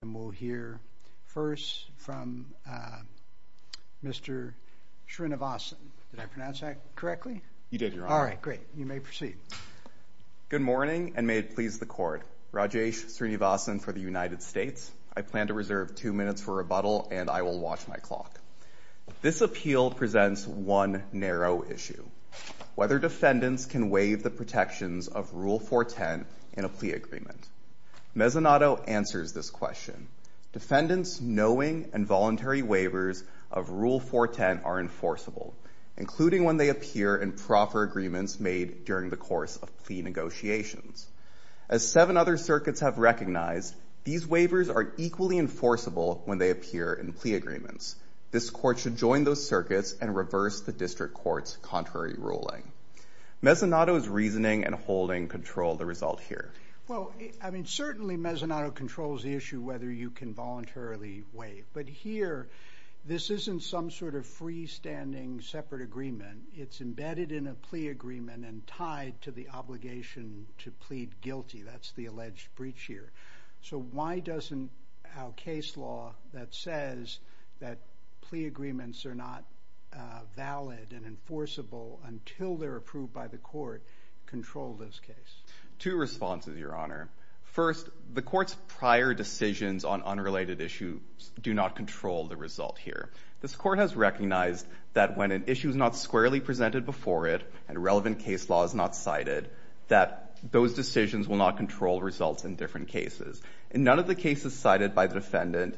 from Mr. Srinivasan. Good morning, and may it please the Court. Rajesh Srinivasan for the United States. I plan to reserve two minutes for rebuttal, and I will watch my clock. Whether defendants can waive the protections of Rule 410 in a plea agreement? Defendants' knowing and voluntary waivers of Rule 410 are enforceable, including when they appear in proper agreements made during the course of plea negotiations. As seven other circuits have recognized, these waivers are equally enforceable when they appear in plea agreements. This Court should join those circuits and reverse the District Court's contrary ruling. Mezzanotto's reasoning and holding control the result here. Well, I mean, certainly Mezzanotto controls the issue whether you can voluntarily waive. But here, this isn't some sort of freestanding separate agreement. It's embedded in a plea agreement and tied to the obligation to plead guilty. That's the alleged breach here. So why doesn't our case law that says that plea agreements are not valid and enforceable until they're approved by the Court control this case? Two responses, Your Honor. First, the Court's prior decisions on unrelated issues do not control the result here. This Court has recognized that when an issue is not squarely presented before it and relevant case law is not cited, that those decisions will not control results in different cases. And none of the cases cited by the defendant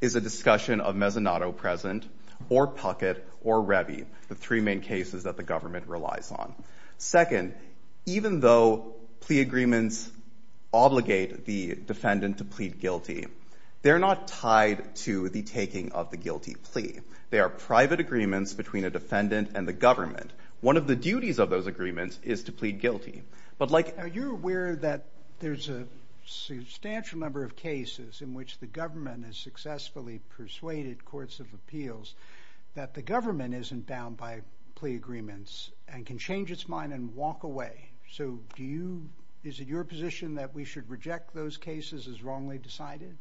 is a discussion of Mezzanotto present or Puckett or Rebbi, the three main cases that the government relies on. Second, even though plea agreements obligate the defendant to plead guilty, they're not tied to the taking of the guilty plea. They are private agreements between a defendant and the government. One of the duties of those agreements is to plead guilty. Are you aware that there's a substantial number of cases in which the government has successfully persuaded courts of appeals that the government isn't bound by plea agreements and can change its mind and walk away? So is it your position that we should reject those cases as wrongly decided?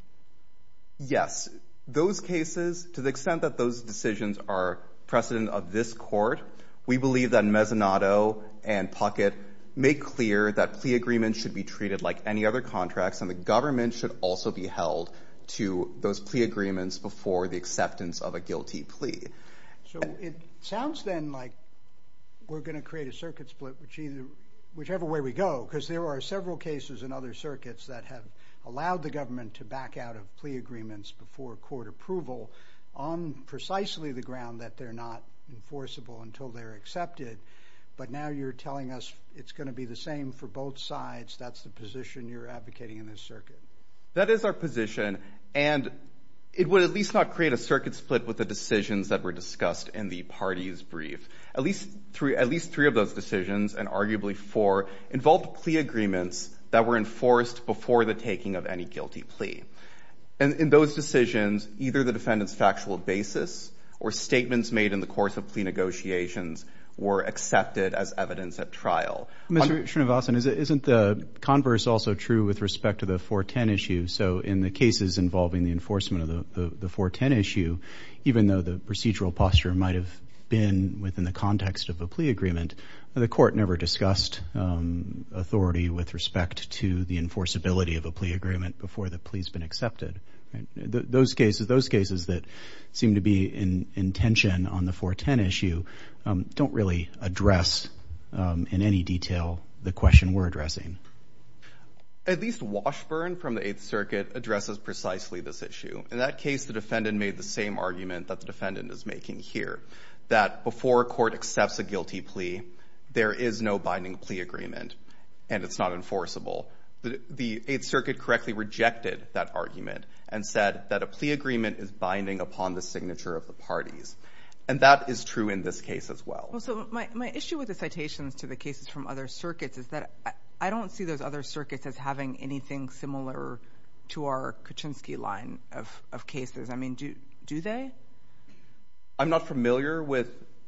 Yes. Those cases, to the extent that those decisions are precedent of this Court, we believe that Mezzanotto and Puckett make clear that plea agreements should be treated like any other contracts and the government should also be held to those plea agreements before the acceptance of a guilty plea. So it sounds then like we're going to create a circuit split, whichever way we go, because there are several cases in other circuits that have allowed the government to back out of plea agreements before court approval on precisely the ground that they're not enforceable until they're accepted. But now you're telling us it's going to be the same for both sides. That's the position you're advocating in this circuit? That is our position, and it would at least not create a circuit split with the decisions that were discussed in the parties' brief. At least three of those decisions, and arguably four, involved plea agreements that were enforced before the taking of any guilty plea. In those decisions, either the defendant's factual basis or statements made in the course of plea negotiations were accepted as evidence at trial. Mr. Srinivasan, isn't the converse also true with respect to the 410 issue? So in the cases involving the enforcement of the 410 issue, even though the procedural posture might have been within the context of a plea agreement, the court never discussed authority with respect to the enforceability of a plea agreement before the plea's been accepted. Those cases that seem to be in tension on the 410 issue don't really address in any detail the question we're addressing. At least Washburn from the 8th Circuit addresses precisely this issue. In that case, the defendant made the same argument that the defendant is making here, that before a court accepts a guilty plea, there is no binding plea agreement, and it's not enforceable. The 8th Circuit correctly rejected that argument and said that a plea agreement is binding upon the signature of the parties. And that is true in this case as well. So my issue with the citations to the cases from other circuits is that I don't see those other circuits as having anything similar to our Kuczynski line of cases. I mean, do they? I'm not familiar with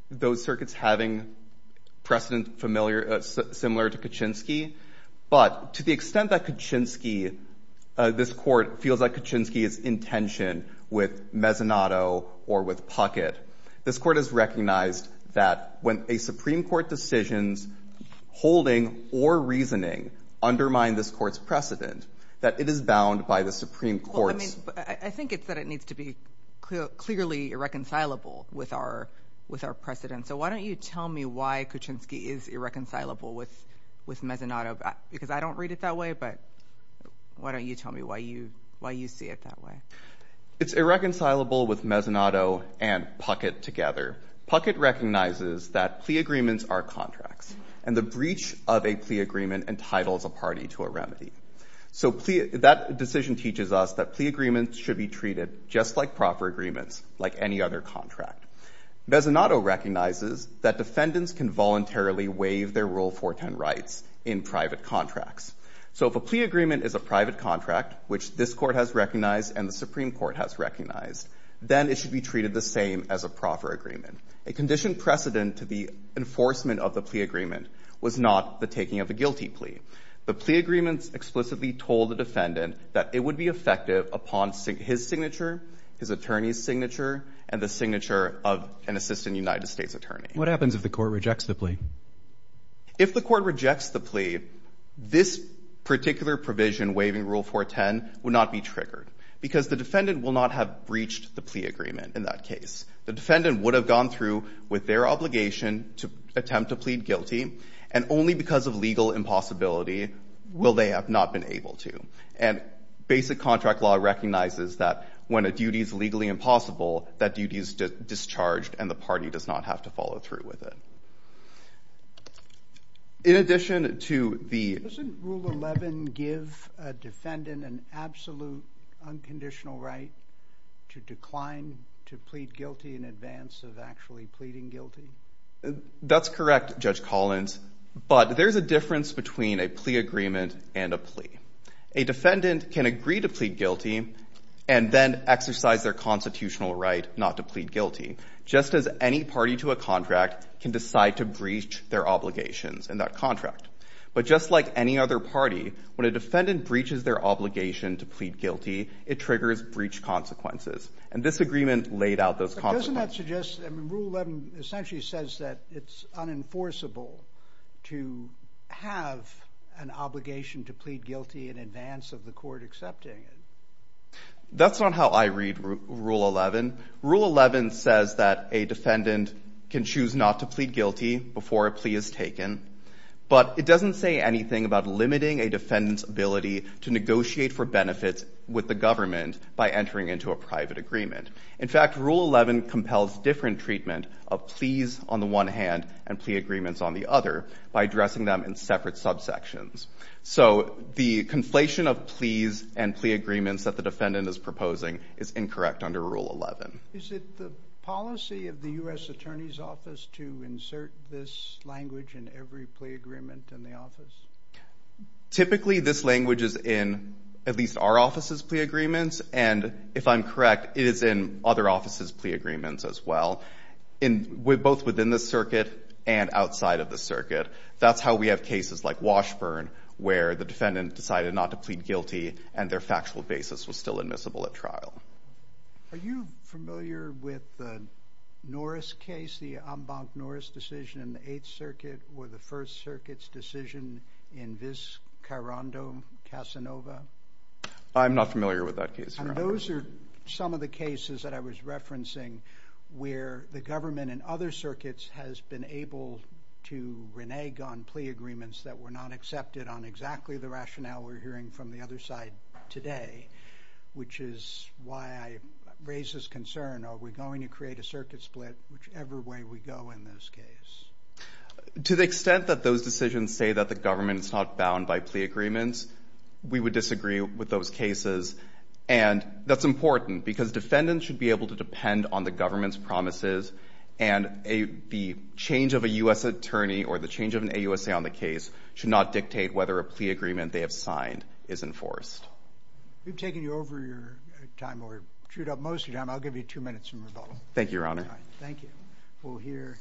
those circuits having precedent similar to Kuczynski, but to the extent that Kuczynski, this court feels like Kuczynski is in tension with Mezzanotto or with Puckett, this court has recognized that when a Supreme Court decision's holding or reasoning undermine this court's precedent, that it is bound by the Supreme Court's. I think it's that it needs to be clearly irreconcilable with our precedent. So why don't you tell me why Kuczynski is irreconcilable with Mezzanotto? Because I don't read it that way, but why don't you tell me why you see it that way? It's irreconcilable with Mezzanotto and Puckett together. Puckett recognizes that plea agreements are contracts, and the breach of a plea agreement entitles a party to a remedy. So that decision teaches us that plea agreements should be treated just like proper agreements, like any other contract. Mezzanotto recognizes that defendants can voluntarily waive their Rule 410 rights in private contracts. So if a plea agreement is a private contract, which this court has recognized and the Supreme Court has recognized, then it should be treated the same as a proper agreement. A conditioned precedent to the enforcement of the plea agreement was not the taking of a guilty plea. The plea agreements explicitly told the defendant that it would be effective upon his signature, his attorney's signature, and the signature of an assistant United States attorney. What happens if the court rejects the plea? If the court rejects the plea, this particular provision waiving Rule 410 would not be triggered because the defendant will not have breached the plea agreement in that case. The defendant would have gone through with their obligation to attempt to plead guilty, and only because of legal impossibility will they have not been able to. And basic contract law recognizes that when a duty is legally impossible, that duty is discharged and the party does not have to follow through with it. In addition to the... Doesn't Rule 11 give a defendant an absolute unconditional right to decline to plead guilty in advance of actually pleading guilty? That's correct, Judge Collins, but there's a difference between a plea agreement and a plea. A defendant can agree to plead guilty and then exercise their constitutional right not to plead guilty, just as any party to a contract can decide to breach their obligations in that contract. But just like any other party, when a defendant breaches their obligation to plead guilty, it triggers breach consequences, and this agreement laid out those consequences. But doesn't that suggest... Rule 11 essentially says that it's unenforceable to have an obligation to plead guilty in advance of the court accepting it? That's not how I read Rule 11. Rule 11 says that a defendant can choose not to plead guilty before a plea is taken, but it doesn't say anything about limiting a defendant's ability to negotiate for benefits with the government by entering into a private agreement. In fact, Rule 11 compels different treatment of pleas on the one hand and plea agreements on the other by addressing them in separate subsections. So the conflation of pleas and plea agreements that the defendant is proposing is incorrect under Rule 11. Is it the policy of the U.S. Attorney's Office to insert this language in every plea agreement in the office? Typically, this language is in at least our office's plea agreements, and if I'm correct, it is in other offices' plea agreements as well, both within the circuit and outside of the circuit. That's how we have cases like Washburn where the defendant decided not to plead guilty and their factual basis was still admissible at trial. Are you familiar with the Norris case, the Ambank-Norris decision in the Eighth Circuit or the First Circuit's decision in Vizcarando-Casanova? I'm not familiar with that case. And those are some of the cases that I was referencing where the government in other circuits has been able to renege on plea agreements that were not accepted on exactly the rationale we're hearing from the other side today, which is why I raise this concern. Are we going to create a circuit split whichever way we go in this case? To the extent that those decisions say that the government is not bound by plea agreements, we would disagree with those cases, and that's important because defendants should be able to depend on the government's promises and the change of a U.S. attorney or the change of an AUSA on the case should not dictate whether a plea agreement they have signed is enforced. We've taken you over your time, or chewed up most of your time. I'll give you two minutes in rebuttal. Thank you, Your Honor. Thank you. We'll hear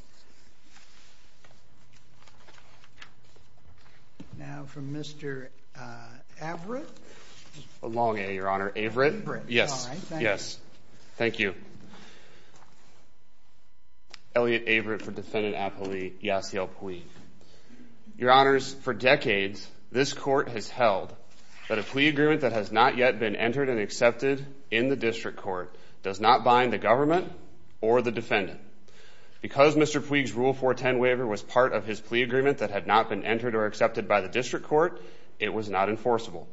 now from Mr. Averitt. Long A, Your Honor. Averitt? Averitt. Yes. Yes. Thank you. Thank you. Elliot Averitt for Defendant Appealee, Yasiel Puig. Your Honors, for decades, this court has held that a plea agreement that has not yet been entered and accepted in the district court does not bind the government or the defendant. Because Mr. Puig's Rule 410 waiver was part of his plea agreement that had not been entered or accepted by the district court, it was not enforceable.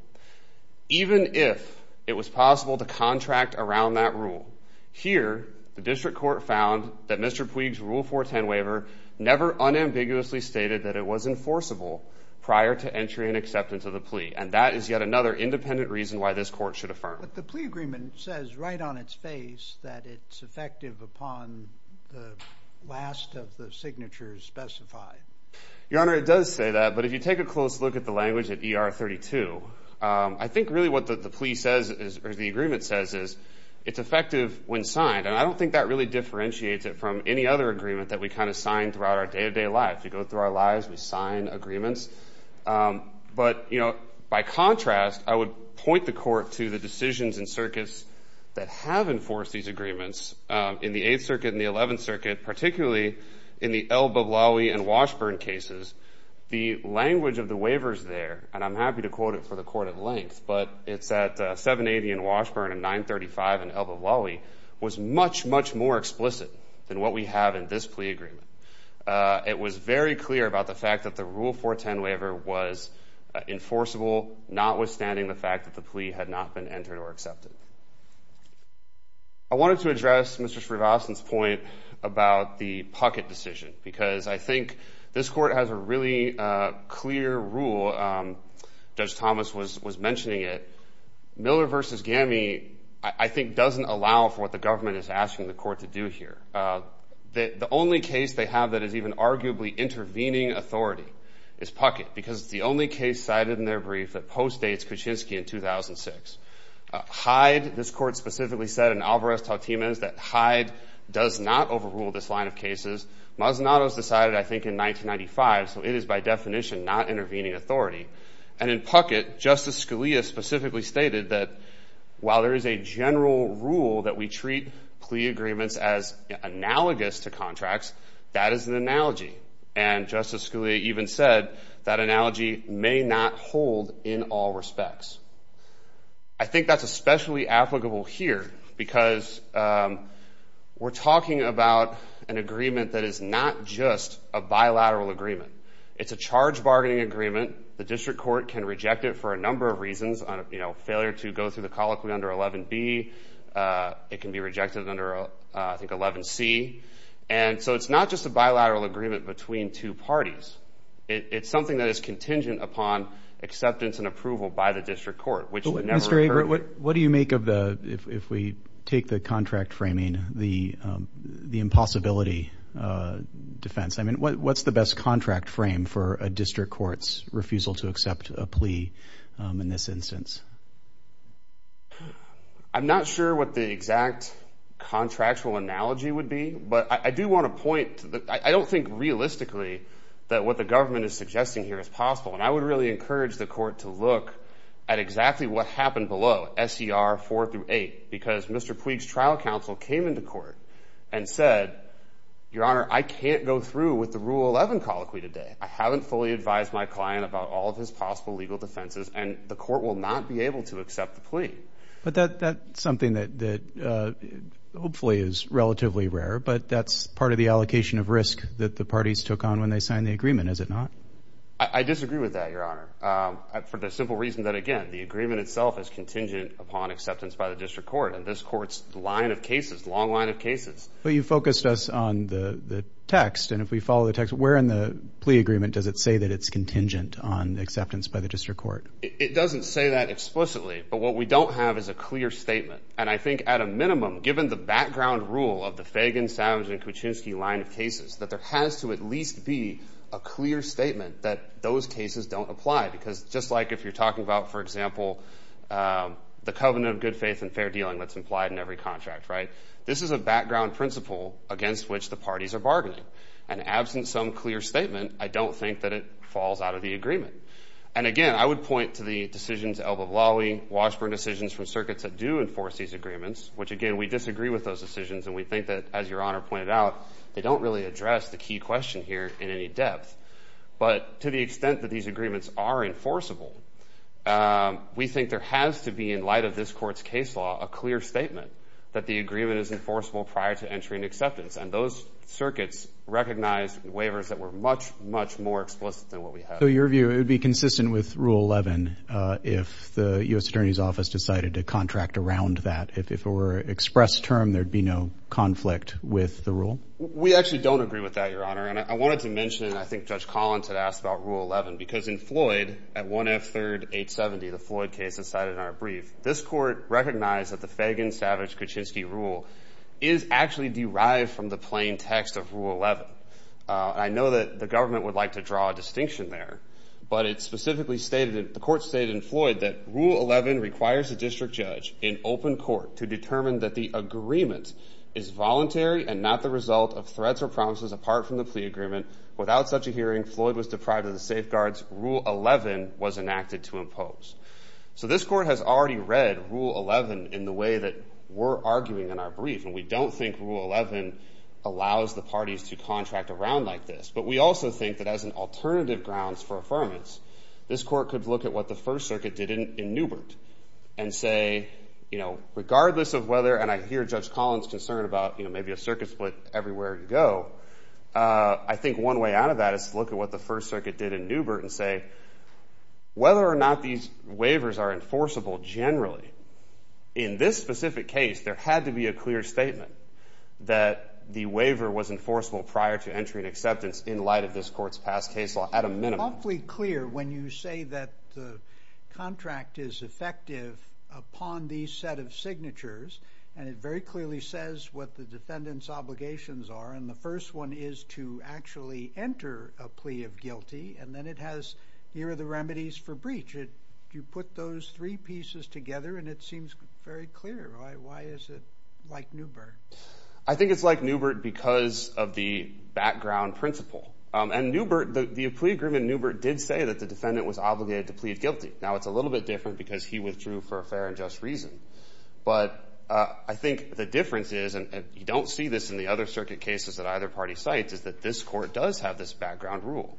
Even if it was possible to contract around that rule, here the district court found that Mr. Puig's Rule 410 waiver never unambiguously stated that it was enforceable prior to entry and acceptance of the plea, and that is yet another independent reason why this court should affirm. But the plea agreement says right on its face that it's effective upon the last of the signatures specified. Your Honor, it does say that, but if you take a close look at the language at ER 32, I think really what the plea says, or the agreement says, is it's effective when signed. And I don't think that really differentiates it from any other agreement that we kind of sign throughout our day-to-day life. We go through our lives, we sign agreements. But, you know, by contrast, I would point the court to the decisions in circuits that have enforced these agreements. In the 8th Circuit and the 11th Circuit, particularly in the El-Bablaoui and Washburn cases, the language of the waivers there, and I'm happy to quote it for the court at length, but it's at 780 in Washburn and 935 in El-Bablaoui, was much, much more explicit than what we have in this plea agreement. It was very clear about the fact that the Rule 410 waiver was enforceable, notwithstanding the fact that the plea had not been entered or accepted. I wanted to address Mr. Srivastava's point about the pocket decision, because I think this court has a really clear rule. Judge Thomas was mentioning it. Miller v. Gami, I think, doesn't allow for what the government is asking the court to do here. The only case they have that is even arguably intervening authority is Puckett, because it's the only case cited in their brief that postdates Kuczynski in 2006. Hyde, this court specifically said, and Alvarez-Tautemez, that Hyde does not overrule this line of cases. Mazzanato's decided, I think, in 1995, so it is by definition not intervening authority. And in Puckett, Justice Scalia specifically stated that while there is a general rule that we treat plea agreements as analogous to contracts, that is an analogy. And Justice Scalia even said that analogy may not hold in all respects. I think that's especially applicable here, because we're talking about an agreement that is not just a bilateral agreement. It's a charge bargaining agreement. The district court can reject it for a number of reasons. Failure to go through the colloquy under 11B. It can be rejected under, I think, 11C. And so it's not just a bilateral agreement between two parties. It's something that is contingent upon acceptance and approval by the district court, which never occurred. What do you make of the, if we take the contract framing, the impossibility defense? I mean, what's the best contract frame for a district court's refusal to accept a plea in this instance? I'm not sure what the exact contractual analogy would be, but I do want to point... I don't think realistically that what the government is suggesting here is possible. And I would really encourage the court to look at exactly what happened below, S.E.R. 4 through 8, because Mr. Puig's trial counsel came into court and said, Your Honor, I can't go through with the Rule 11 colloquy today. I haven't fully advised my client about all of his possible legal defenses, and the court will not be able to accept the plea. But that's something that hopefully is relatively rare, but that's part of the allocation of risk that the parties took on when they signed the agreement, is it not? I disagree with that, Your Honor, for the simple reason that, again, the agreement itself is contingent upon acceptance by the district court, and this court's line of cases, long line of cases... But you focused us on the text, and if we follow the text, where in the plea agreement does it say that it's contingent on acceptance by the district court? It doesn't say that explicitly, but what we don't have is a clear statement. And I think at a minimum, given the background rule of the Fagan, Savage, and Kuczynski line of cases, that there has to at least be a clear statement that those cases don't apply, because just like if you're talking about, for example, the covenant of good faith and fair dealing that's implied in every contract, right? This is a background principle against which the parties are bargaining. And absent some clear statement, I don't think that it falls out of the agreement. And again, I would point to the decisions, Elbow Lawley, Washburn decisions from circuits that do enforce these agreements, which, again, we disagree with those decisions, and we think that, as Your Honor pointed out, they don't really address the key question here in any depth. But to the extent that these agreements are enforceable, we think there has to be, in light of this court's case law, a clear statement that the agreement is enforceable prior to entry and acceptance. And those circuits recognized waivers that were much, much more explicit than what we have. So your view, it would be consistent with Rule 11 if the U.S. Attorney's Office decided to contract around that? If it were an express term, there'd be no conflict with the rule? We actually don't agree with that, Your Honor. And I wanted to mention, and I think Judge Collins had asked about Rule 11, because in Floyd, at 1F3rd 870, the Floyd case that's cited in our brief, this court recognized that the Fagan-Savage-Kuczynski rule is actually derived from the plain text of Rule 11. And I know that the government would like to draw a distinction there, but it specifically stated, the court stated in Floyd, that Rule 11 requires a district judge in open court to determine that the agreement is voluntary and not the result of threats or promises apart from the plea agreement. Without such a hearing, Floyd was deprived of the safeguards. Rule 11 was enacted to impose. So this court has already read Rule 11 in the way that we're arguing in our brief, and we don't think Rule 11 allows the parties to contract around like this. But we also think that as an alternative grounds for affirmance, this court could look at what the First Circuit did in Newbert and say, you know, regardless of whether, and I hear Judge Collins' concern about, you know, maybe a circuit split everywhere you go, I think one way out of that is to look at what the First Circuit did in Newbert and say, whether or not these waivers are enforceable generally, in this specific case, there had to be a clear statement that the waiver was enforceable prior to entry and acceptance in light of this court's past case law at a minimum. It's awfully clear when you say that the contract is effective upon these set of signatures, and it very clearly says what the defendant's obligations are, and the first one is to actually enter a plea of guilty, and then it has here are the remedies for breach. You put those three pieces together, and it seems very clear. Why is it like Newbert? I think it's like Newbert because of the background principle. And Newbert, the plea agreement in Newbert did say that the defendant was obligated to plead guilty. Now it's a little bit different because he withdrew for a fair and just reason. But I think the difference is, and you don't see this in the other circuit cases that either party cites, is that this court does have this background rule.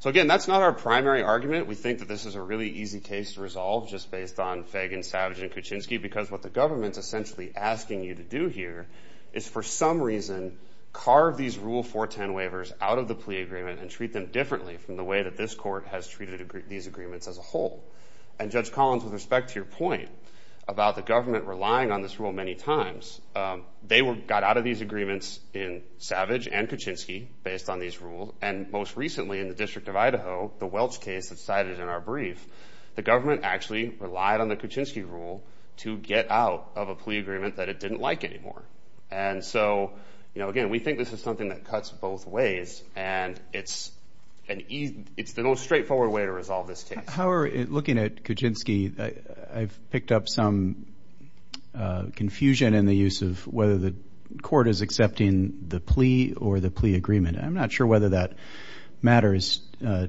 So again, that's not our primary argument. We think that this is a really easy case to resolve just based on Fagan, Savage, and Kuczynski because what the government's essentially asking you to do here is for some reason carve these Rule 410 waivers out of the plea agreement and treat them differently from the way that this court has treated these agreements as a whole. And Judge Collins, with respect to your point about the government relying on this rule many times, they got out of these agreements in Savage and Kuczynski based on these rules, and most recently in the District of Idaho, the Welch case that's cited in our brief, the government actually relied on the Kuczynski rule to get out of a plea agreement that it didn't like anymore. And so again, we think this is something that cuts both ways, and it's the most straightforward way to resolve this case. Howard, looking at Kuczynski, I've picked up some confusion in the use of whether the court is accepting the plea or the plea agreement. I'm not sure whether that matters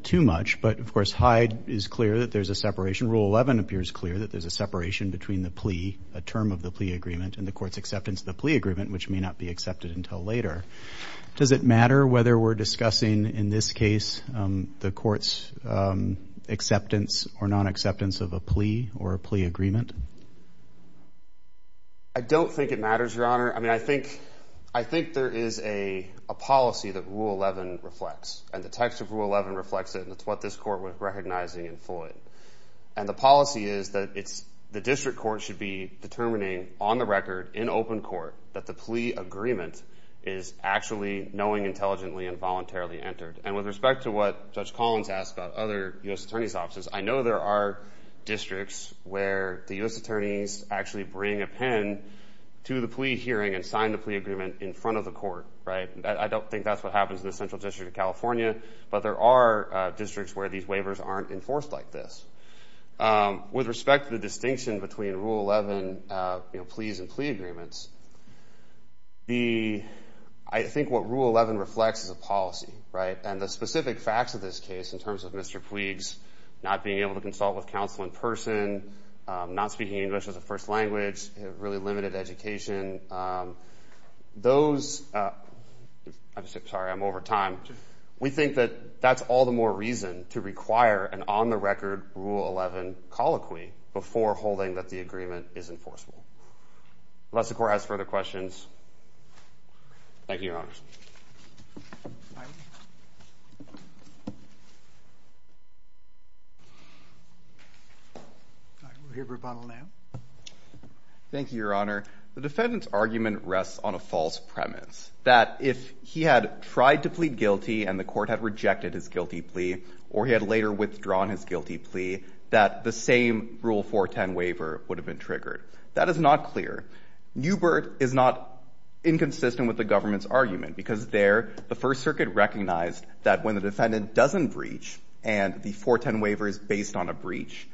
too much, but of course Hyde is clear that there's a separation. Rule 11 appears clear that there's a separation between the plea, a term of the plea agreement, and the court's acceptance of the plea agreement, which may not be accepted until later. Does it matter whether we're discussing in this case the court's acceptance or non-acceptance of a plea or a plea agreement? I don't think it matters, Your Honor. I mean, I think there is a policy that Rule 11 reflects, and the text of Rule 11 reflects it, and it's what this court was recognizing in Floyd. And the policy is that the district court should be determining on the record, in open court, that the plea agreement is actually knowing, intelligently, and voluntarily entered. And with respect to what Judge Collins asked about other U.S. attorneys' offices, I know there are districts where the U.S. attorneys actually bring a pen to the plea hearing and sign the plea agreement in front of the court. I don't think that's what happens in the Central District of California, but there are districts where these waivers aren't enforced like this. With respect to the distinction between Rule 11 pleas and plea agreements, I think what Rule 11 reflects is a policy, right? And the specific facts of this case, in terms of Mr. Puig's not being able to consult with counsel in person, not speaking English as a first language, really limited education, those – I'm sorry, I'm over time. We think that that's all the more reason to require an on-the-record Rule 11 colloquy before holding that the agreement is enforceable. Unless the court has further questions. Thank you, Your Honors. All right, we'll hear from Rupanul now. Thank you, Your Honor. The defendant's argument rests on a false premise, that if he had tried to plead guilty and the court had rejected his guilty plea or he had later withdrawn his guilty plea, that the same Rule 410 waiver would have been triggered. That is not clear. Newbert is not inconsistent with the government's argument, because there the First Circuit recognized that when the defendant doesn't breach and the 410 waiver is based on a breach,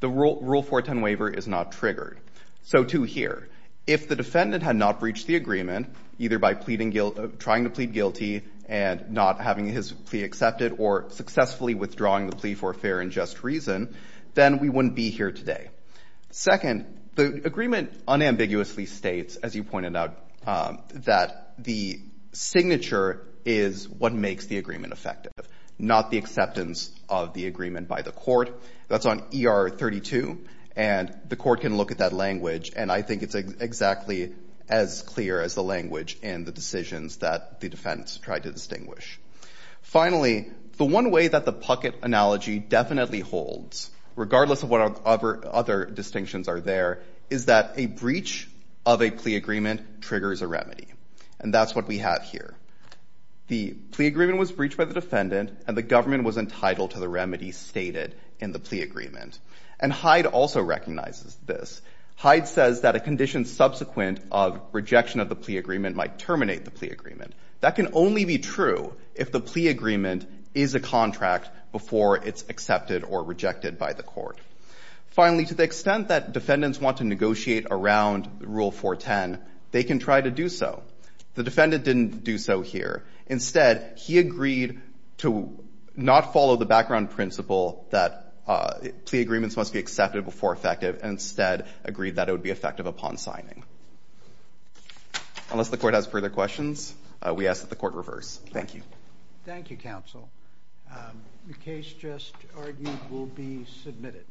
the Rule 410 waiver is not triggered. So, to hear, if the defendant had not breached the agreement, either by pleading guilt – trying to plead guilty and not having his plea accepted or successfully withdrawing the plea for a fair and just reason, then we wouldn't be here today. Second, the agreement unambiguously states, as you pointed out, that the signature is what makes the agreement effective, not the acceptance of the agreement by the court. That's on ER 32, and the court can look at that language, and I think it's exactly as clear as the language in the decisions that the defendants tried to distinguish. Finally, the one way that the Puckett analogy definitely holds, regardless of what other distinctions are there, is that a breach of a plea agreement triggers a remedy, and that's what we have here. The plea agreement was breached by the defendant, and the government was entitled to the remedy stated in the plea agreement. And Hyde also recognizes this. Hyde says that a condition subsequent of rejection of the plea agreement might terminate the plea agreement. That can only be true if the plea agreement is a contract before it's accepted or rejected by the court. Finally, to the extent that defendants want to negotiate around Rule 410, they can try to do so. The defendant didn't do so here. Instead, he agreed to not follow the background principle that plea agreements must be accepted before effective, and instead agreed that it would be effective upon signing. Unless the court has further questions, we ask that the court reverse. Thank you. Thank you, counsel. The case just argued will be submitted.